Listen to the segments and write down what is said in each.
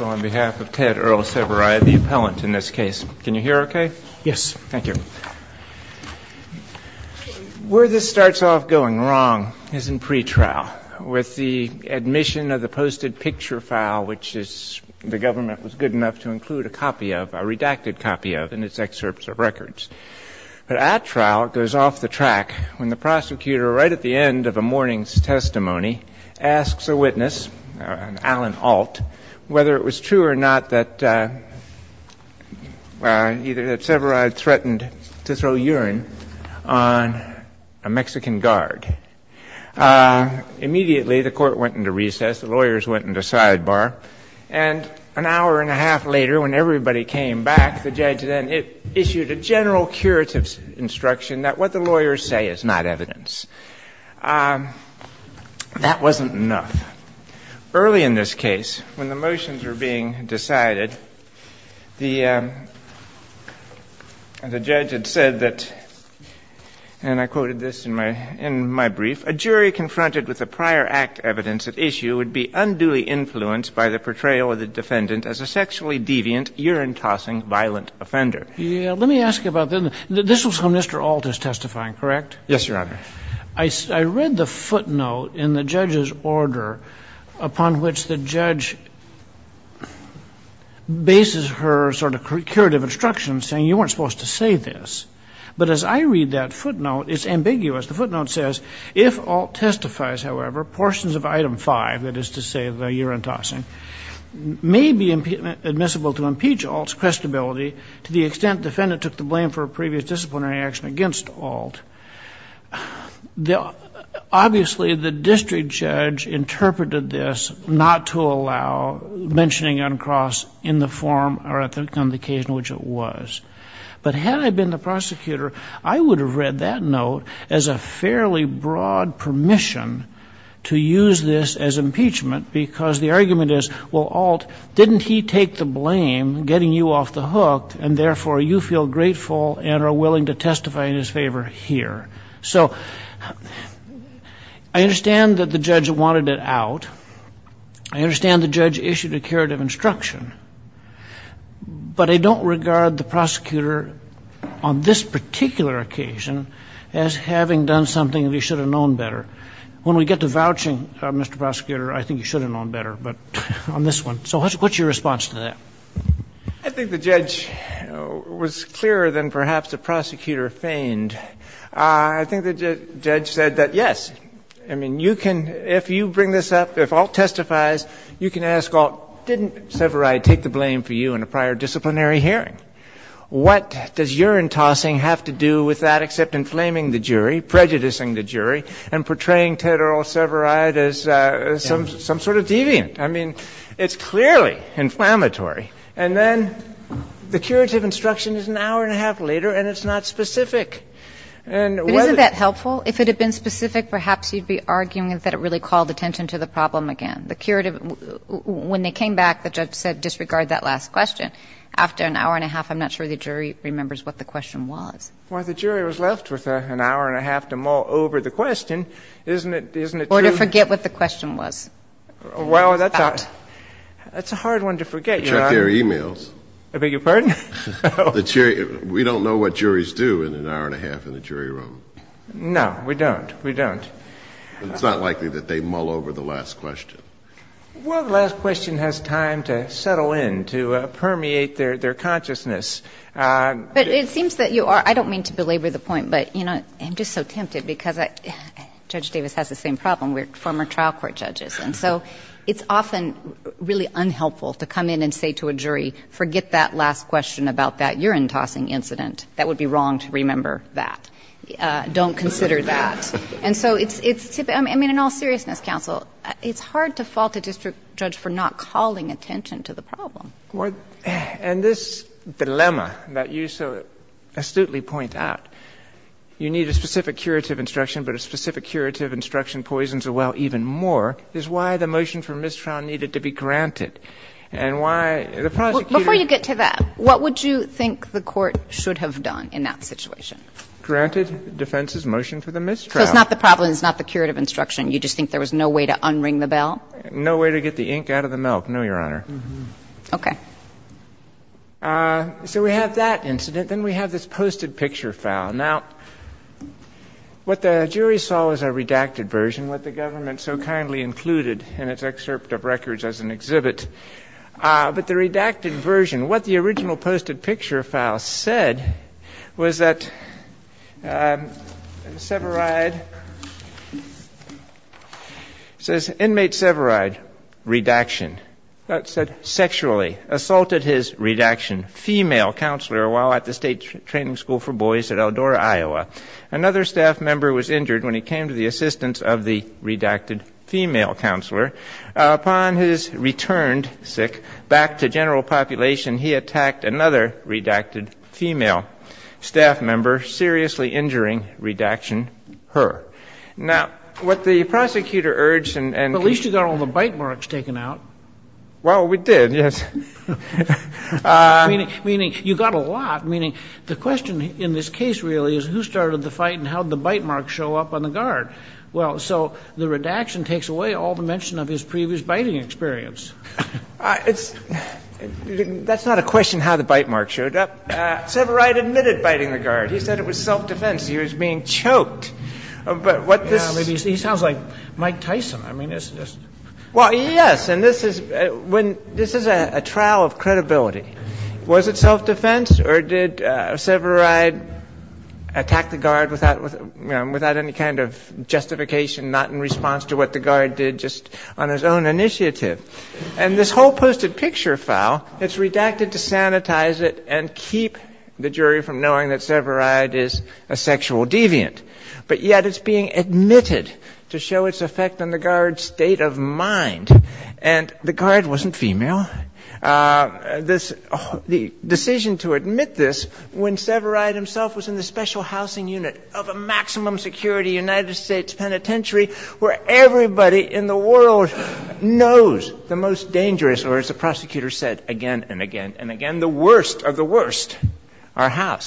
on behalf of Ted Earl Severeid, the appellant in this case. Can you hear okay? Yes. Thank you. Where this starts off going wrong is in pre-trial, with the admission of the posted picture file, which the government was good enough to include a copy of, a redacted copy of, in its excerpts of records. But at trial, it goes off the track when the prosecutor, right at the end of a morning's testimony, asks a witness, an Allen Alt, whether it was true or not that either Ted Severeid threatened to throw urine on a Mexican guard. Immediately the court went into recess. The lawyers went into sidebar. And an hour and a half later, when everybody came back, the judge then issued a general curative instruction that what the lawyers say is not evidence. That wasn't enough. Early in this case, when the motions were being decided, the judge had said that, and I quoted this in my brief, a jury confronted with the prior act evidence at issue would be unduly influenced by the portrayal of the defendant as a sexually deviant, urine-tossing, violent offender. Yeah. Let me ask you about this. This was when Mr. Alt is testifying, correct? Yes, Your Honor. I read the footnote in the judge's order upon which the judge bases her sort of curative instruction, saying you weren't supposed to say this. But as I read that footnote, it's ambiguous. The footnote says, if Alt testifies, however, portions of item 5, that the defendant took the blame for a previous disciplinary action against Alt. Obviously, the district judge interpreted this not to allow mentioning uncross in the form or on the occasion in which it was. But had I been the prosecutor, I would have read that note as a fairly broad permission to use this as impeachment, because the argument is, well, Alt, didn't he take the blame, getting you off the hook, and therefore, you feel grateful and are willing to testify in his favor here. So I understand that the judge wanted it out. I understand the judge issued a curative instruction. But I don't regard the prosecutor on this particular occasion as having done something that he should have known better. When we get to vouching, Mr. Prosecutor, I think you should have known better, but on this one. So what's your response to that? I think the judge was clearer than perhaps the prosecutor feigned. I think the judge said that, yes, I mean, you can, if you bring this up, if Alt testifies, you can ask, well, didn't Severide take the blame for you in a prior disciplinary hearing? What does urine tossing have to do with that except inflaming the jury, prejudicing the jury, and portraying Ted Earl Severide as some sort of deviant? I mean, it's clearly inflammatory. And then the curative instruction is an hour and a half later, and it's not specific. And whether the jury was left with an hour and a half to mull over the question, isn't it true? Or to forget what the question was. Well, that's a hard one to forget. Check their e-mails. I beg your pardon? We don't know what juries do in an hour and a half in the jury room. No, we don't. We don't. It's not likely that they mull over the last question. Well, the last question has time to settle in, to permeate their consciousness. But it seems that you are, I don't mean to belabor the point, but I'm just so tempted because Judge Davis has the same problem. We're former trial court judges. And so it's often really unhelpful to come in and say to a jury, forget that last question about that urine tossing incident. That would be wrong to remember that. Don't consider that. And so it's typically, I mean, in all seriousness, counsel, it's hard to fault a district judge for not calling attention to the problem. And this dilemma that you so astutely point out, you need a specific curative instruction, but a specific curative instruction poisons the well even more, is why the motion for mistrial needed to be granted. And why the prosecutor — Before you get to that, what would you think the Court should have done in that situation? Granted defense's motion for the mistrial. So it's not the problem, it's not the curative instruction. You just think there was no way to unring the bell? No way to get the ink out of the milk, no, Your Honor. Okay. So we have that incident. Then we have this posted picture file. Now, what the jury saw was a redacted version, what the government so kindly included in its excerpt of records as an exhibit. But the redacted version, what the original posted picture file said was that Severide — says, Inmate Severide, redaction. That said, sexually assaulted his redaction female counselor while at the state training school for boys at Eldora, Iowa. Another staff member was injured when he came to the assistance of the redacted female counselor. Upon his return, sick, back to general population, he attacked another redacted female staff member, seriously injuring redaction her. Now, what the prosecutor urged and — But at least you got all the bite marks taken out. Well, we did, yes. Meaning you got a lot. Meaning the question in this case really is who started the fight and how did the bite marks show up on the guard? Well, so the redaction takes away all the mention of his previous biting experience. It's — that's not a question how the bite marks showed up. Severide admitted biting the guard. He said it was self-defense. He was being choked. But what this — Yeah, but he sounds like Mike Tyson. I mean, it's just — Well, yes. And this is — when — this is a trial of credibility. Was it self-defense or did Severide attack the guard without — you know, without any kind of justification, not in response to what the guard did, just on his own initiative? And this whole posted picture file, it's redacted to sanitize it and keep the jury from knowing that Severide is a sexual deviant. But yet it's being admitted to show its effect on the guard's state of mind. And the guard wasn't female. This — the decision to admit this when Severide himself was in the special housing unit of a maximum security United States penitentiary where everybody in the world knows the most dangerous — or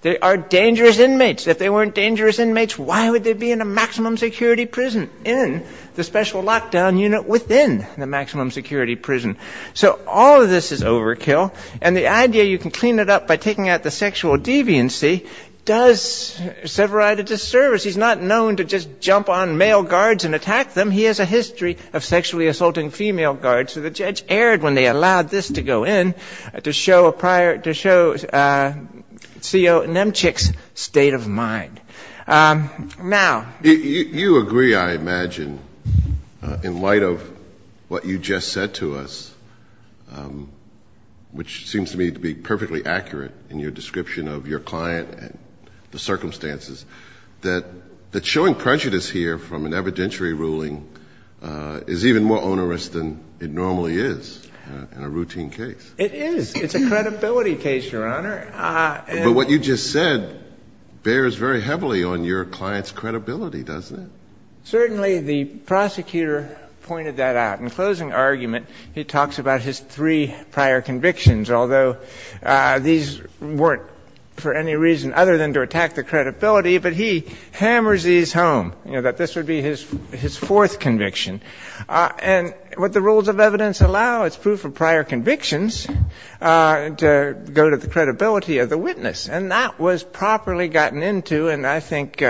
They are dangerous inmates. If they weren't dangerous inmates, why would they be in a maximum security prison in the special lockdown unit within the maximum security prison? So all of this is overkill. And the idea you can clean it up by taking out the sexual deviancy does Severide a disservice. He's not known to just jump on male guards and attack them. He has a history of sexually assaulting female guards. So the judge erred when they allowed this to go in to show a prior — to show C.O. Nemchik's state of mind. Now — You agree, I imagine, in light of what you just said to us, which seems to me to be perfectly accurate in your description of your client and the circumstances, that showing prejudice here from an evidentiary ruling is even more onerous than it normally is in a routine case. It is. It's a credibility case, Your Honor. But what you just said bears very heavily on your client's credibility, doesn't it? Certainly. The prosecutor pointed that out. In closing argument, he talks about his three prior convictions, although these weren't for any reason other than to attack the credibility. But he hammers these home, you know, that this would be his fourth conviction. And what the rules of evidence allow is proof of prior convictions to go to the credibility of the witness. And that was properly gotten into and, I think,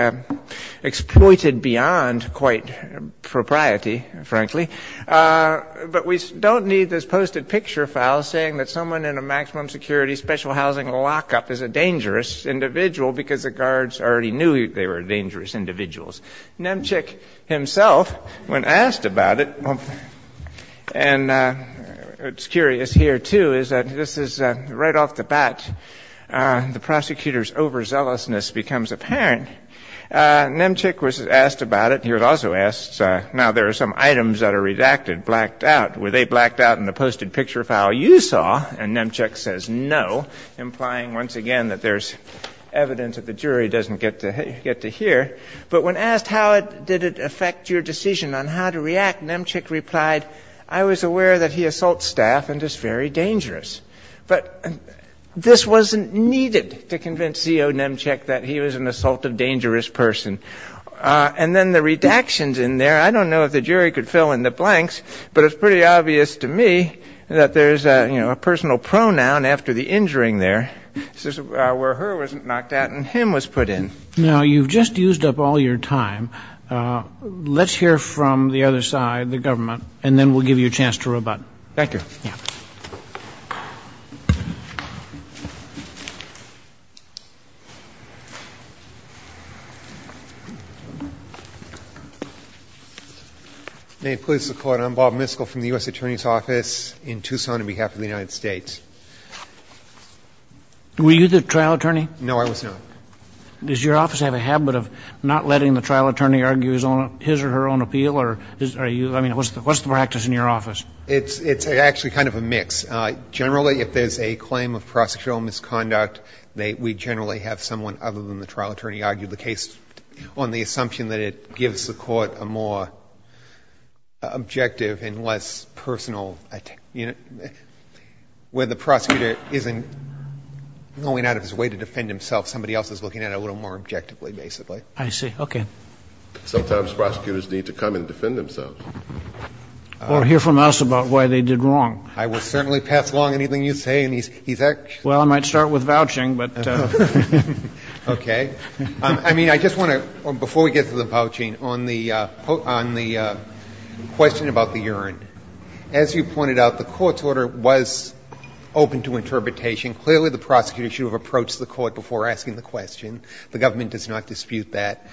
exploited beyond quite propriety, frankly. But we don't need this posted picture file saying that someone in a maximum security special housing lockup is a dangerous individual because the guards already knew they were dangerous individuals. Nemchik himself, when asked about it, and it's curious here, too, is that this is right off the bat, the prosecutor's overzealousness becomes apparent. Nemchik was asked about it. He was also asked, now there are some items that are redacted, blacked out. Were they blacked out in the posted picture file you saw? And Nemchik says no, implying once again that there's evidence that the jury doesn't get to hear. But when asked how did it affect your decision on how to react, Nemchik replied, I was aware that he assaults staff and is very dangerous. But this wasn't needed to convince Zio Nemchik that he was an assaultive, dangerous person. And then the redactions in there, I don't know if the jury could fill in the blanks, but it's pretty obvious to me that there's a personal pronoun after the injuring there where her wasn't knocked out and him was put in. Now, you've just used up all your time. Let's hear from the other side, the government, and then we'll give you a chance to rebut. Thank you. May it please the Court. I'm Bob Miskell from the U.S. Attorney's Office in Tucson on behalf of the United States. Were you the trial attorney? No, I was not. Does your office have a habit of not letting the trial attorney argue his or her own appeal? I mean, what's the practice in your office? It's actually kind of a mix. Generally, if there's a claim of prosecutorial misconduct, we generally have someone other than the trial attorney argue the case on the assumption that it gives the Court a more objective and less personal, you know, where the prosecutor isn't going out of his way to defend himself, somebody else is looking at it a little more objectively, basically. I see. Okay. Sometimes prosecutors need to come and defend themselves. Or hear from us about why they did wrong. I will certainly pass along anything you say. Well, I might start with vouching, but... Okay. I mean, I just want to, before we get to the vouching, on the question about the urine, as you pointed out, the Court's order was open to interpretation. Clearly, the prosecutor should have approached the Court before asking the question. The government does not dispute that.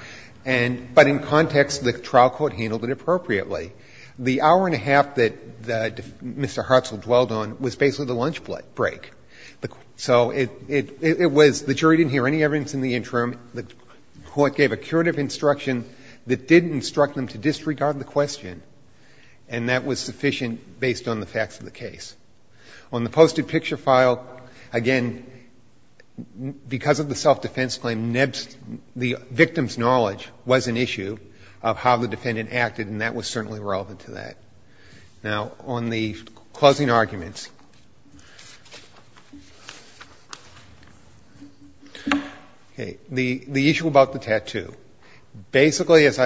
But in context, the trial court handled it appropriately. The hour and a half that Mr. Hartzell dwelled on was basically the lunch break. So it was, the jury didn't hear any evidence in the interim, the Court gave a curative instruction that didn't instruct them to disregard the question, and that was sufficient based on the facts of the case. On the posted picture file, again, because of the self-defense claim, the victim's knowledge was an issue of how the defendant acted, and that was certainly relevant to that. Now, on the closing arguments. Okay. The issue about the tattoo. Basically, as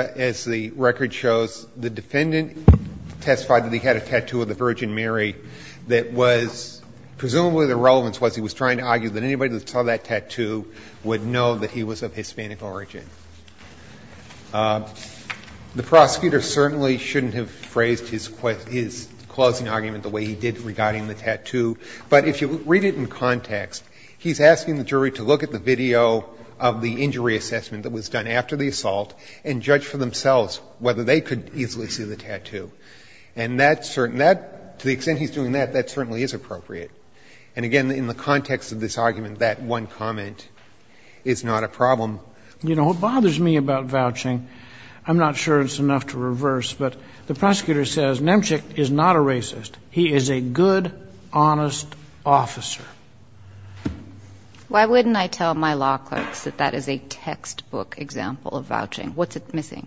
the record shows, the defendant testified that he had a tattoo of the Virgin Mary that was, presumably the relevance was he was trying to argue that anybody that saw that tattoo would know that he was of Hispanic origin. The prosecutor certainly shouldn't have phrased his closing argument the way he did regarding the tattoo. But if you read it in context, he's asking the jury to look at the video of the injury assessment that was done after the assault and judge for themselves whether they could easily see the tattoo. And that's certain that, to the extent he's doing that, that certainly is appropriate. And again, in the context of this argument, that one comment is not a problem. You know, what bothers me about vouching, I'm not sure it's enough to reverse, but the prosecutor says Nemchik is not a racist. He is a good, honest officer. Why wouldn't I tell my law clerks that that is a textbook example of vouching? What's it missing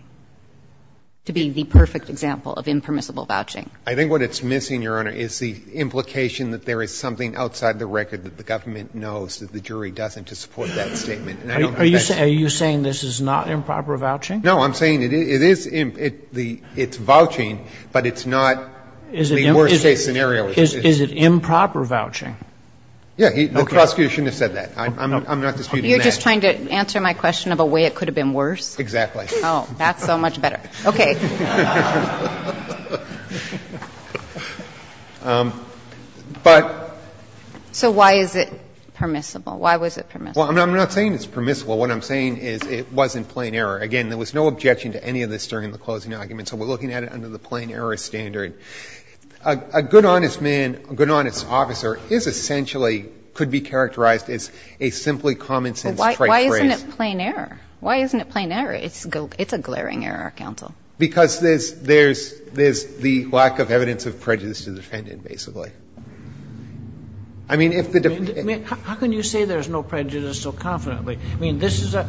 to be the perfect example of impermissible vouching? I think what it's missing, Your Honor, is the implication that there is something outside the record that the government knows that the jury doesn't to support that statement. Are you saying this is not improper vouching? No, I'm saying it is. It's vouching, but it's not the worst-case scenario. Is it improper vouching? Yeah. Okay. The prosecution has said that. I'm not disputing that. You're just trying to answer my question of a way it could have been worse? Exactly. Oh, that's so much better. Okay. So why is it permissible? Why was it permissible? Well, I'm not saying it's permissible. What I'm saying is it wasn't plain error. Again, there was no objection to any of this during the closing argument, so we're looking at it under the plain error standard. A good, honest man, a good, honest officer is essentially, could be characterized as a simply common-sense trait phrase. Why isn't it plain error? Why isn't it plain error? It's a glaring error, counsel. Because there's the lack of evidence of prejudice to defend it, basically. I mean, if the defendant ---- How can you say there's no prejudice so confidently? I mean, this is a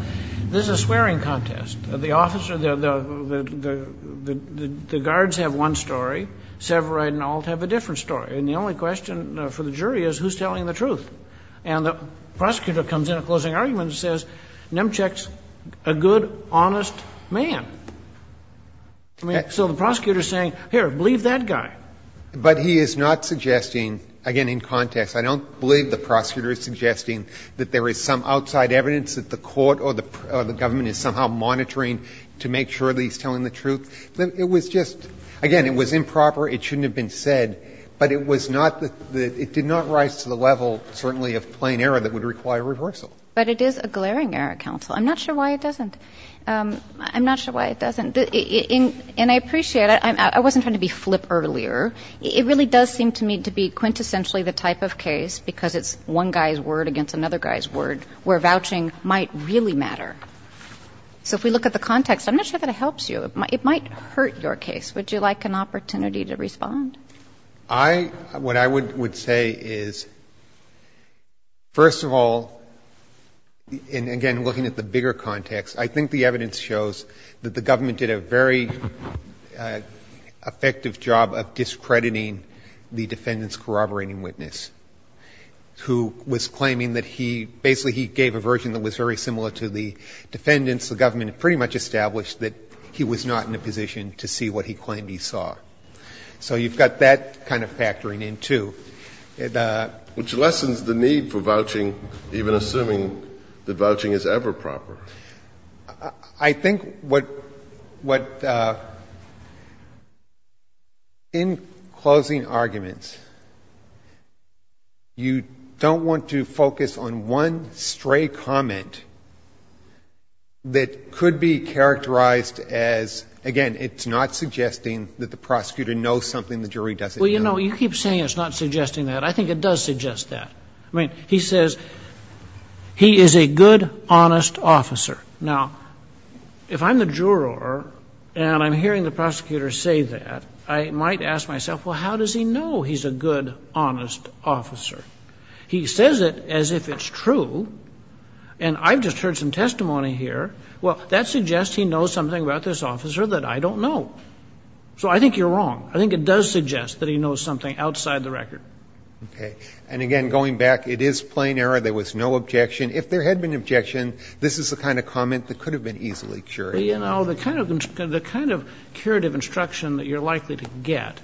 swearing contest. The officer, the guards have one story. Severide and Ault have a different story. And the only question for the jury is who's telling the truth? And the prosecutor comes in at closing argument and says, Nemchuk's a good, honest man. I mean, so the prosecutor is saying, here, believe that guy. But he is not suggesting, again, in context, I don't believe the prosecutor is suggesting that there is some outside evidence that the court or the government is somehow monitoring to make sure that he's telling the truth. It was just ---- again, it was improper. It shouldn't have been said. But it was not the ---- it did not rise to the level certainly of plain error that would require reversal. But it is a glaring error, counsel. I'm not sure why it doesn't. I'm not sure why it doesn't. And I appreciate it. I wasn't trying to be flip earlier. It really does seem to me to be quintessentially the type of case, because it's one guy's word against another guy's word, where vouching might really matter. So if we look at the context, I'm not sure that it helps you. It might hurt your case. Would you like an opportunity to respond? I ---- what I would say is, first of all, and again, looking at the bigger context, I think the evidence shows that the government did a very effective job of discrediting the defendant's corroborating witness, who was claiming that he ---- basically, he gave a version that was very similar to the defendant's. The government pretty much established that he was not in a position to see what he claimed he saw. So you've got that kind of factoring in, too. The ---- Which lessens the need for vouching, even assuming that vouching is ever proper. I think what the ---- in closing arguments, you don't want to focus on one stray comment that could be characterized as, again, it's not suggesting that the prosecutor knows something the jury doesn't know. Well, you know, you keep saying it's not suggesting that. I think it does suggest that. I mean, he says he is a good, honest officer. Now, if I'm the juror and I'm hearing the prosecutor say that, I might ask myself, well, how does he know he's a good, honest officer? He says it as if it's true, and I've just heard some testimony here. Well, that suggests he knows something about this officer that I don't know. So I think you're wrong. I think it does suggest that he knows something outside the record. Okay. And again, going back, it is plain error. There was no objection. If there had been an objection, this is the kind of comment that could have been easily curated. Well, you know, the kind of curative instruction that you're likely to get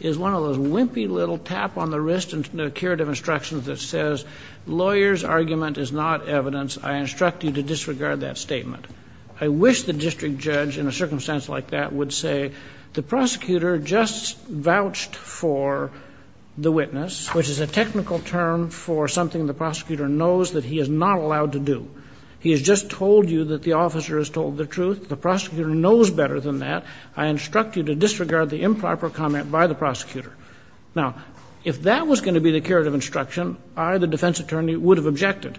is one of those wimpy little tap-on-the-wrist curative instructions that says, lawyer's argument is not evidence. I instruct you to disregard that statement. I wish the district judge in a circumstance like that would say the prosecutor just vouched for the witness, which is a technical term for something the prosecutor knows that he is not allowed to do. He has just told you that the officer has told the truth. The prosecutor knows better than that. I instruct you to disregard the improper comment by the prosecutor. Now, if that was going to be the curative instruction, I, the defense attorney, would have objected.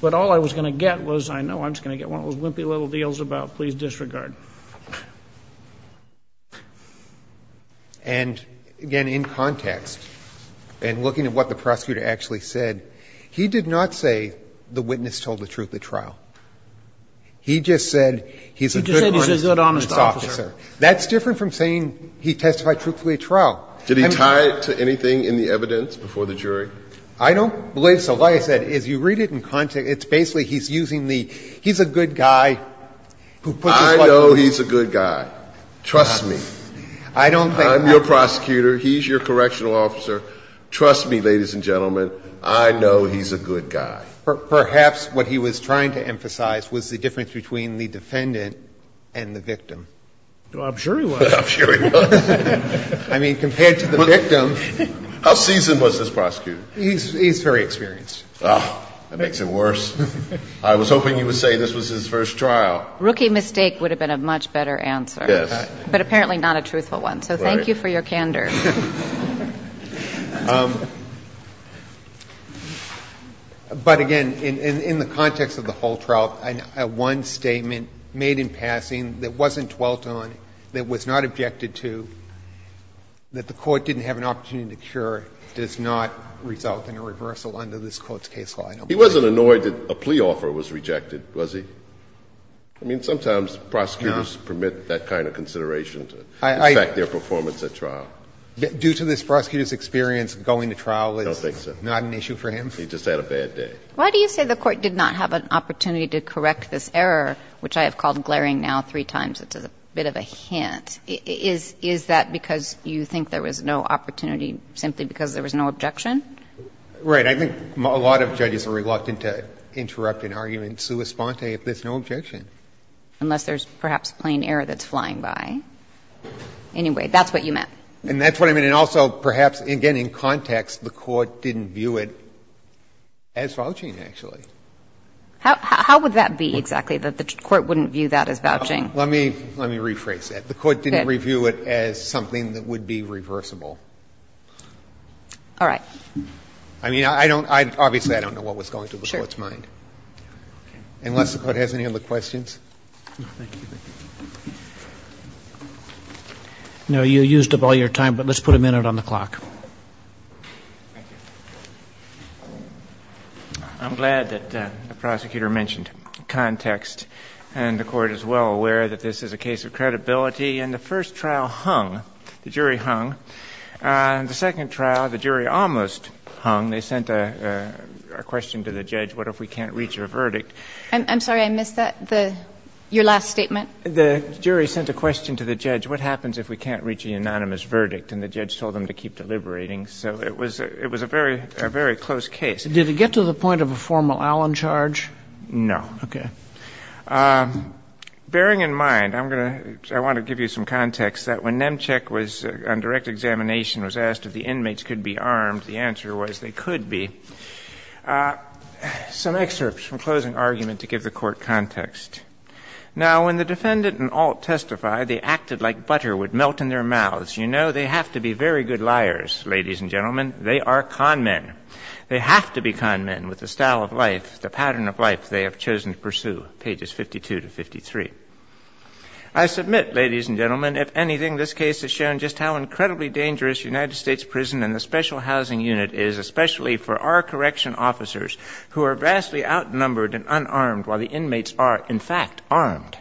But all I was going to get was, I know I'm just going to get one of those wimpy little deals about please disregard. And again, in context, and looking at what the prosecutor actually said, he did not say the witness told the truth at trial. He just said he's a good honest officer. He just said he's a good honest officer. That's different from saying he testified truthfully at trial. Did he tie it to anything in the evidence before the jury? I don't believe so. Like I said, as you read it in context, it's basically he's using the, he's a good guy who puts his foot forward. I know he's a good guy. Trust me. I don't think that's true. I'm your prosecutor. He's your correctional officer. Trust me, ladies and gentlemen. I know he's a good guy. Perhaps what he was trying to emphasize was the difference between the defendant and the victim. I'm sure he was. I'm sure he was. I mean, compared to the victim. How seasoned was this prosecutor? He's very experienced. Oh, that makes it worse. I was hoping you would say this was his first trial. Rookie mistake would have been a much better answer. Yes. But apparently not a truthful one. Right. So thank you for your candor. But again, in the context of the whole trial, one statement made in passing that wasn't dwelt on, that was not objected to, that the Court didn't have an opportunity to cure, does not result in a reversal under this Court's case law. I don't believe it. He wasn't annoyed that a plea offer was rejected, was he? I mean, sometimes prosecutors permit that kind of consideration to affect their performance at trial. Due to this prosecutor's experience, going to trial is not an issue for him. I don't think so. He just had a bad day. Why do you say the Court did not have an opportunity to correct this error, which I have called glaring now three times. It's a bit of a hint. Is that because you think there was no opportunity simply because there was no objection? Right. I think a lot of judges are reluctant to interrupt an argument sua sponte if there's no objection. Unless there's perhaps plain error that's flying by. Anyway, that's what you meant. And that's what I mean. actually. How would that be exactly, that the Court wouldn't view that as vouching? Let me rephrase that. The Court didn't review it as something that would be reversible. All right. I mean, I don't – obviously, I don't know what was going through the Court's mind. Sure. Unless the Court has any other questions. No, you used up all your time, but let's put a minute on the clock. Thank you. I'm glad that the prosecutor mentioned context. And the Court is well aware that this is a case of credibility. And the first trial hung. The jury hung. The second trial, the jury almost hung. They sent a question to the judge, what if we can't reach a verdict? I'm sorry. I missed that, your last statement. The jury sent a question to the judge, what happens if we can't reach a unanimous verdict? And the judge told them to keep deliberating. So it was a very close case. Did it get to the point of a formal Allen charge? No. Okay. Bearing in mind, I'm going to – I want to give you some context that when Nemchik was – on direct examination was asked if the inmates could be armed, the answer was they could be. Some excerpts from closing argument to give the Court context. Now, when the defendant and Alt testified, they acted like butter would melt in their mouths. You know, they have to be very good liars, ladies and gentlemen. They are con men. They have to be con men with the style of life, the pattern of life they have chosen to pursue, pages 52 to 53. I submit, ladies and gentlemen, if anything, this case has shown just how incredibly dangerous United States prison and the special housing unit is, especially for our correction officers who are vastly outnumbered and unarmed while the inmates are, in fact, armed.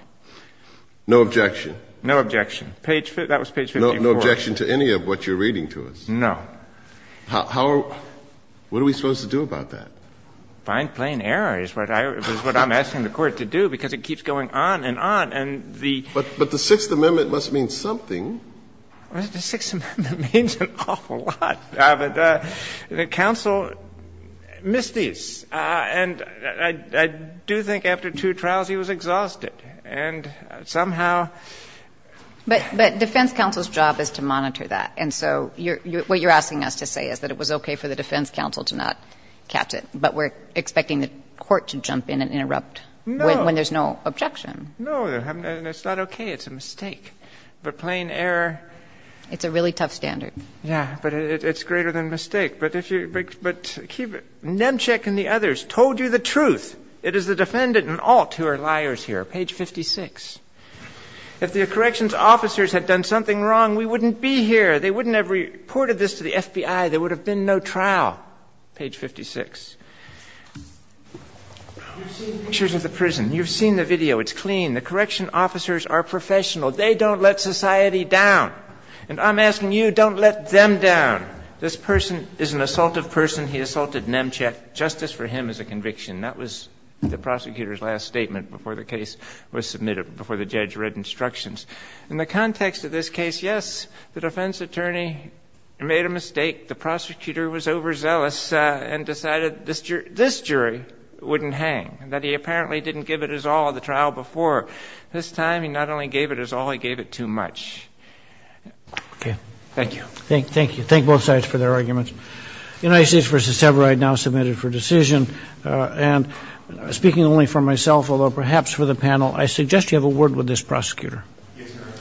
No objection. No objection. Page – that was page 54. No objection to any of what you're reading to us. No. How – what are we supposed to do about that? Find plain error is what I'm asking the Court to do because it keeps going on and on. And the – But the Sixth Amendment must mean something. The Sixth Amendment means an awful lot. The counsel missed these. And I do think after two trials he was exhausted. And somehow – But defense counsel's job is to monitor that. And so what you're asking us to say is that it was okay for the defense counsel to not catch it. But we're expecting the Court to jump in and interrupt when there's no objection. No. No. And it's not okay. It's a mistake. But plain error – It's a really tough standard. Yeah. But it's greater than a mistake. But if you – but Nemchik and the others told you the truth. It is the defendant and all two are liars here. Page 56. If the corrections officers had done something wrong, we wouldn't be here. They wouldn't have reported this to the FBI. There would have been no trial. Page 56. Pictures of the prison. You've seen the video. It's clean. The correction officers are professional. They don't let society down. And I'm asking you, don't let them down. This person is an assaultive person. He assaulted Nemchik. Justice for him is a conviction. That was the prosecutor's last statement before the case was submitted, before the judge read instructions. In the context of this case, yes, the defense attorney made a mistake. The prosecutor was overzealous and decided this jury wouldn't hang, that he apparently didn't give it his all at the trial before. This time, he not only gave it his all, he gave it too much. Okay. Thank you. Thank you. Thank both sides for their arguments. United States v. Severeye now submitted for decision. And speaking only for myself, although perhaps for the panel, I suggest you have a word with this prosecutor. Yes, Your Honor.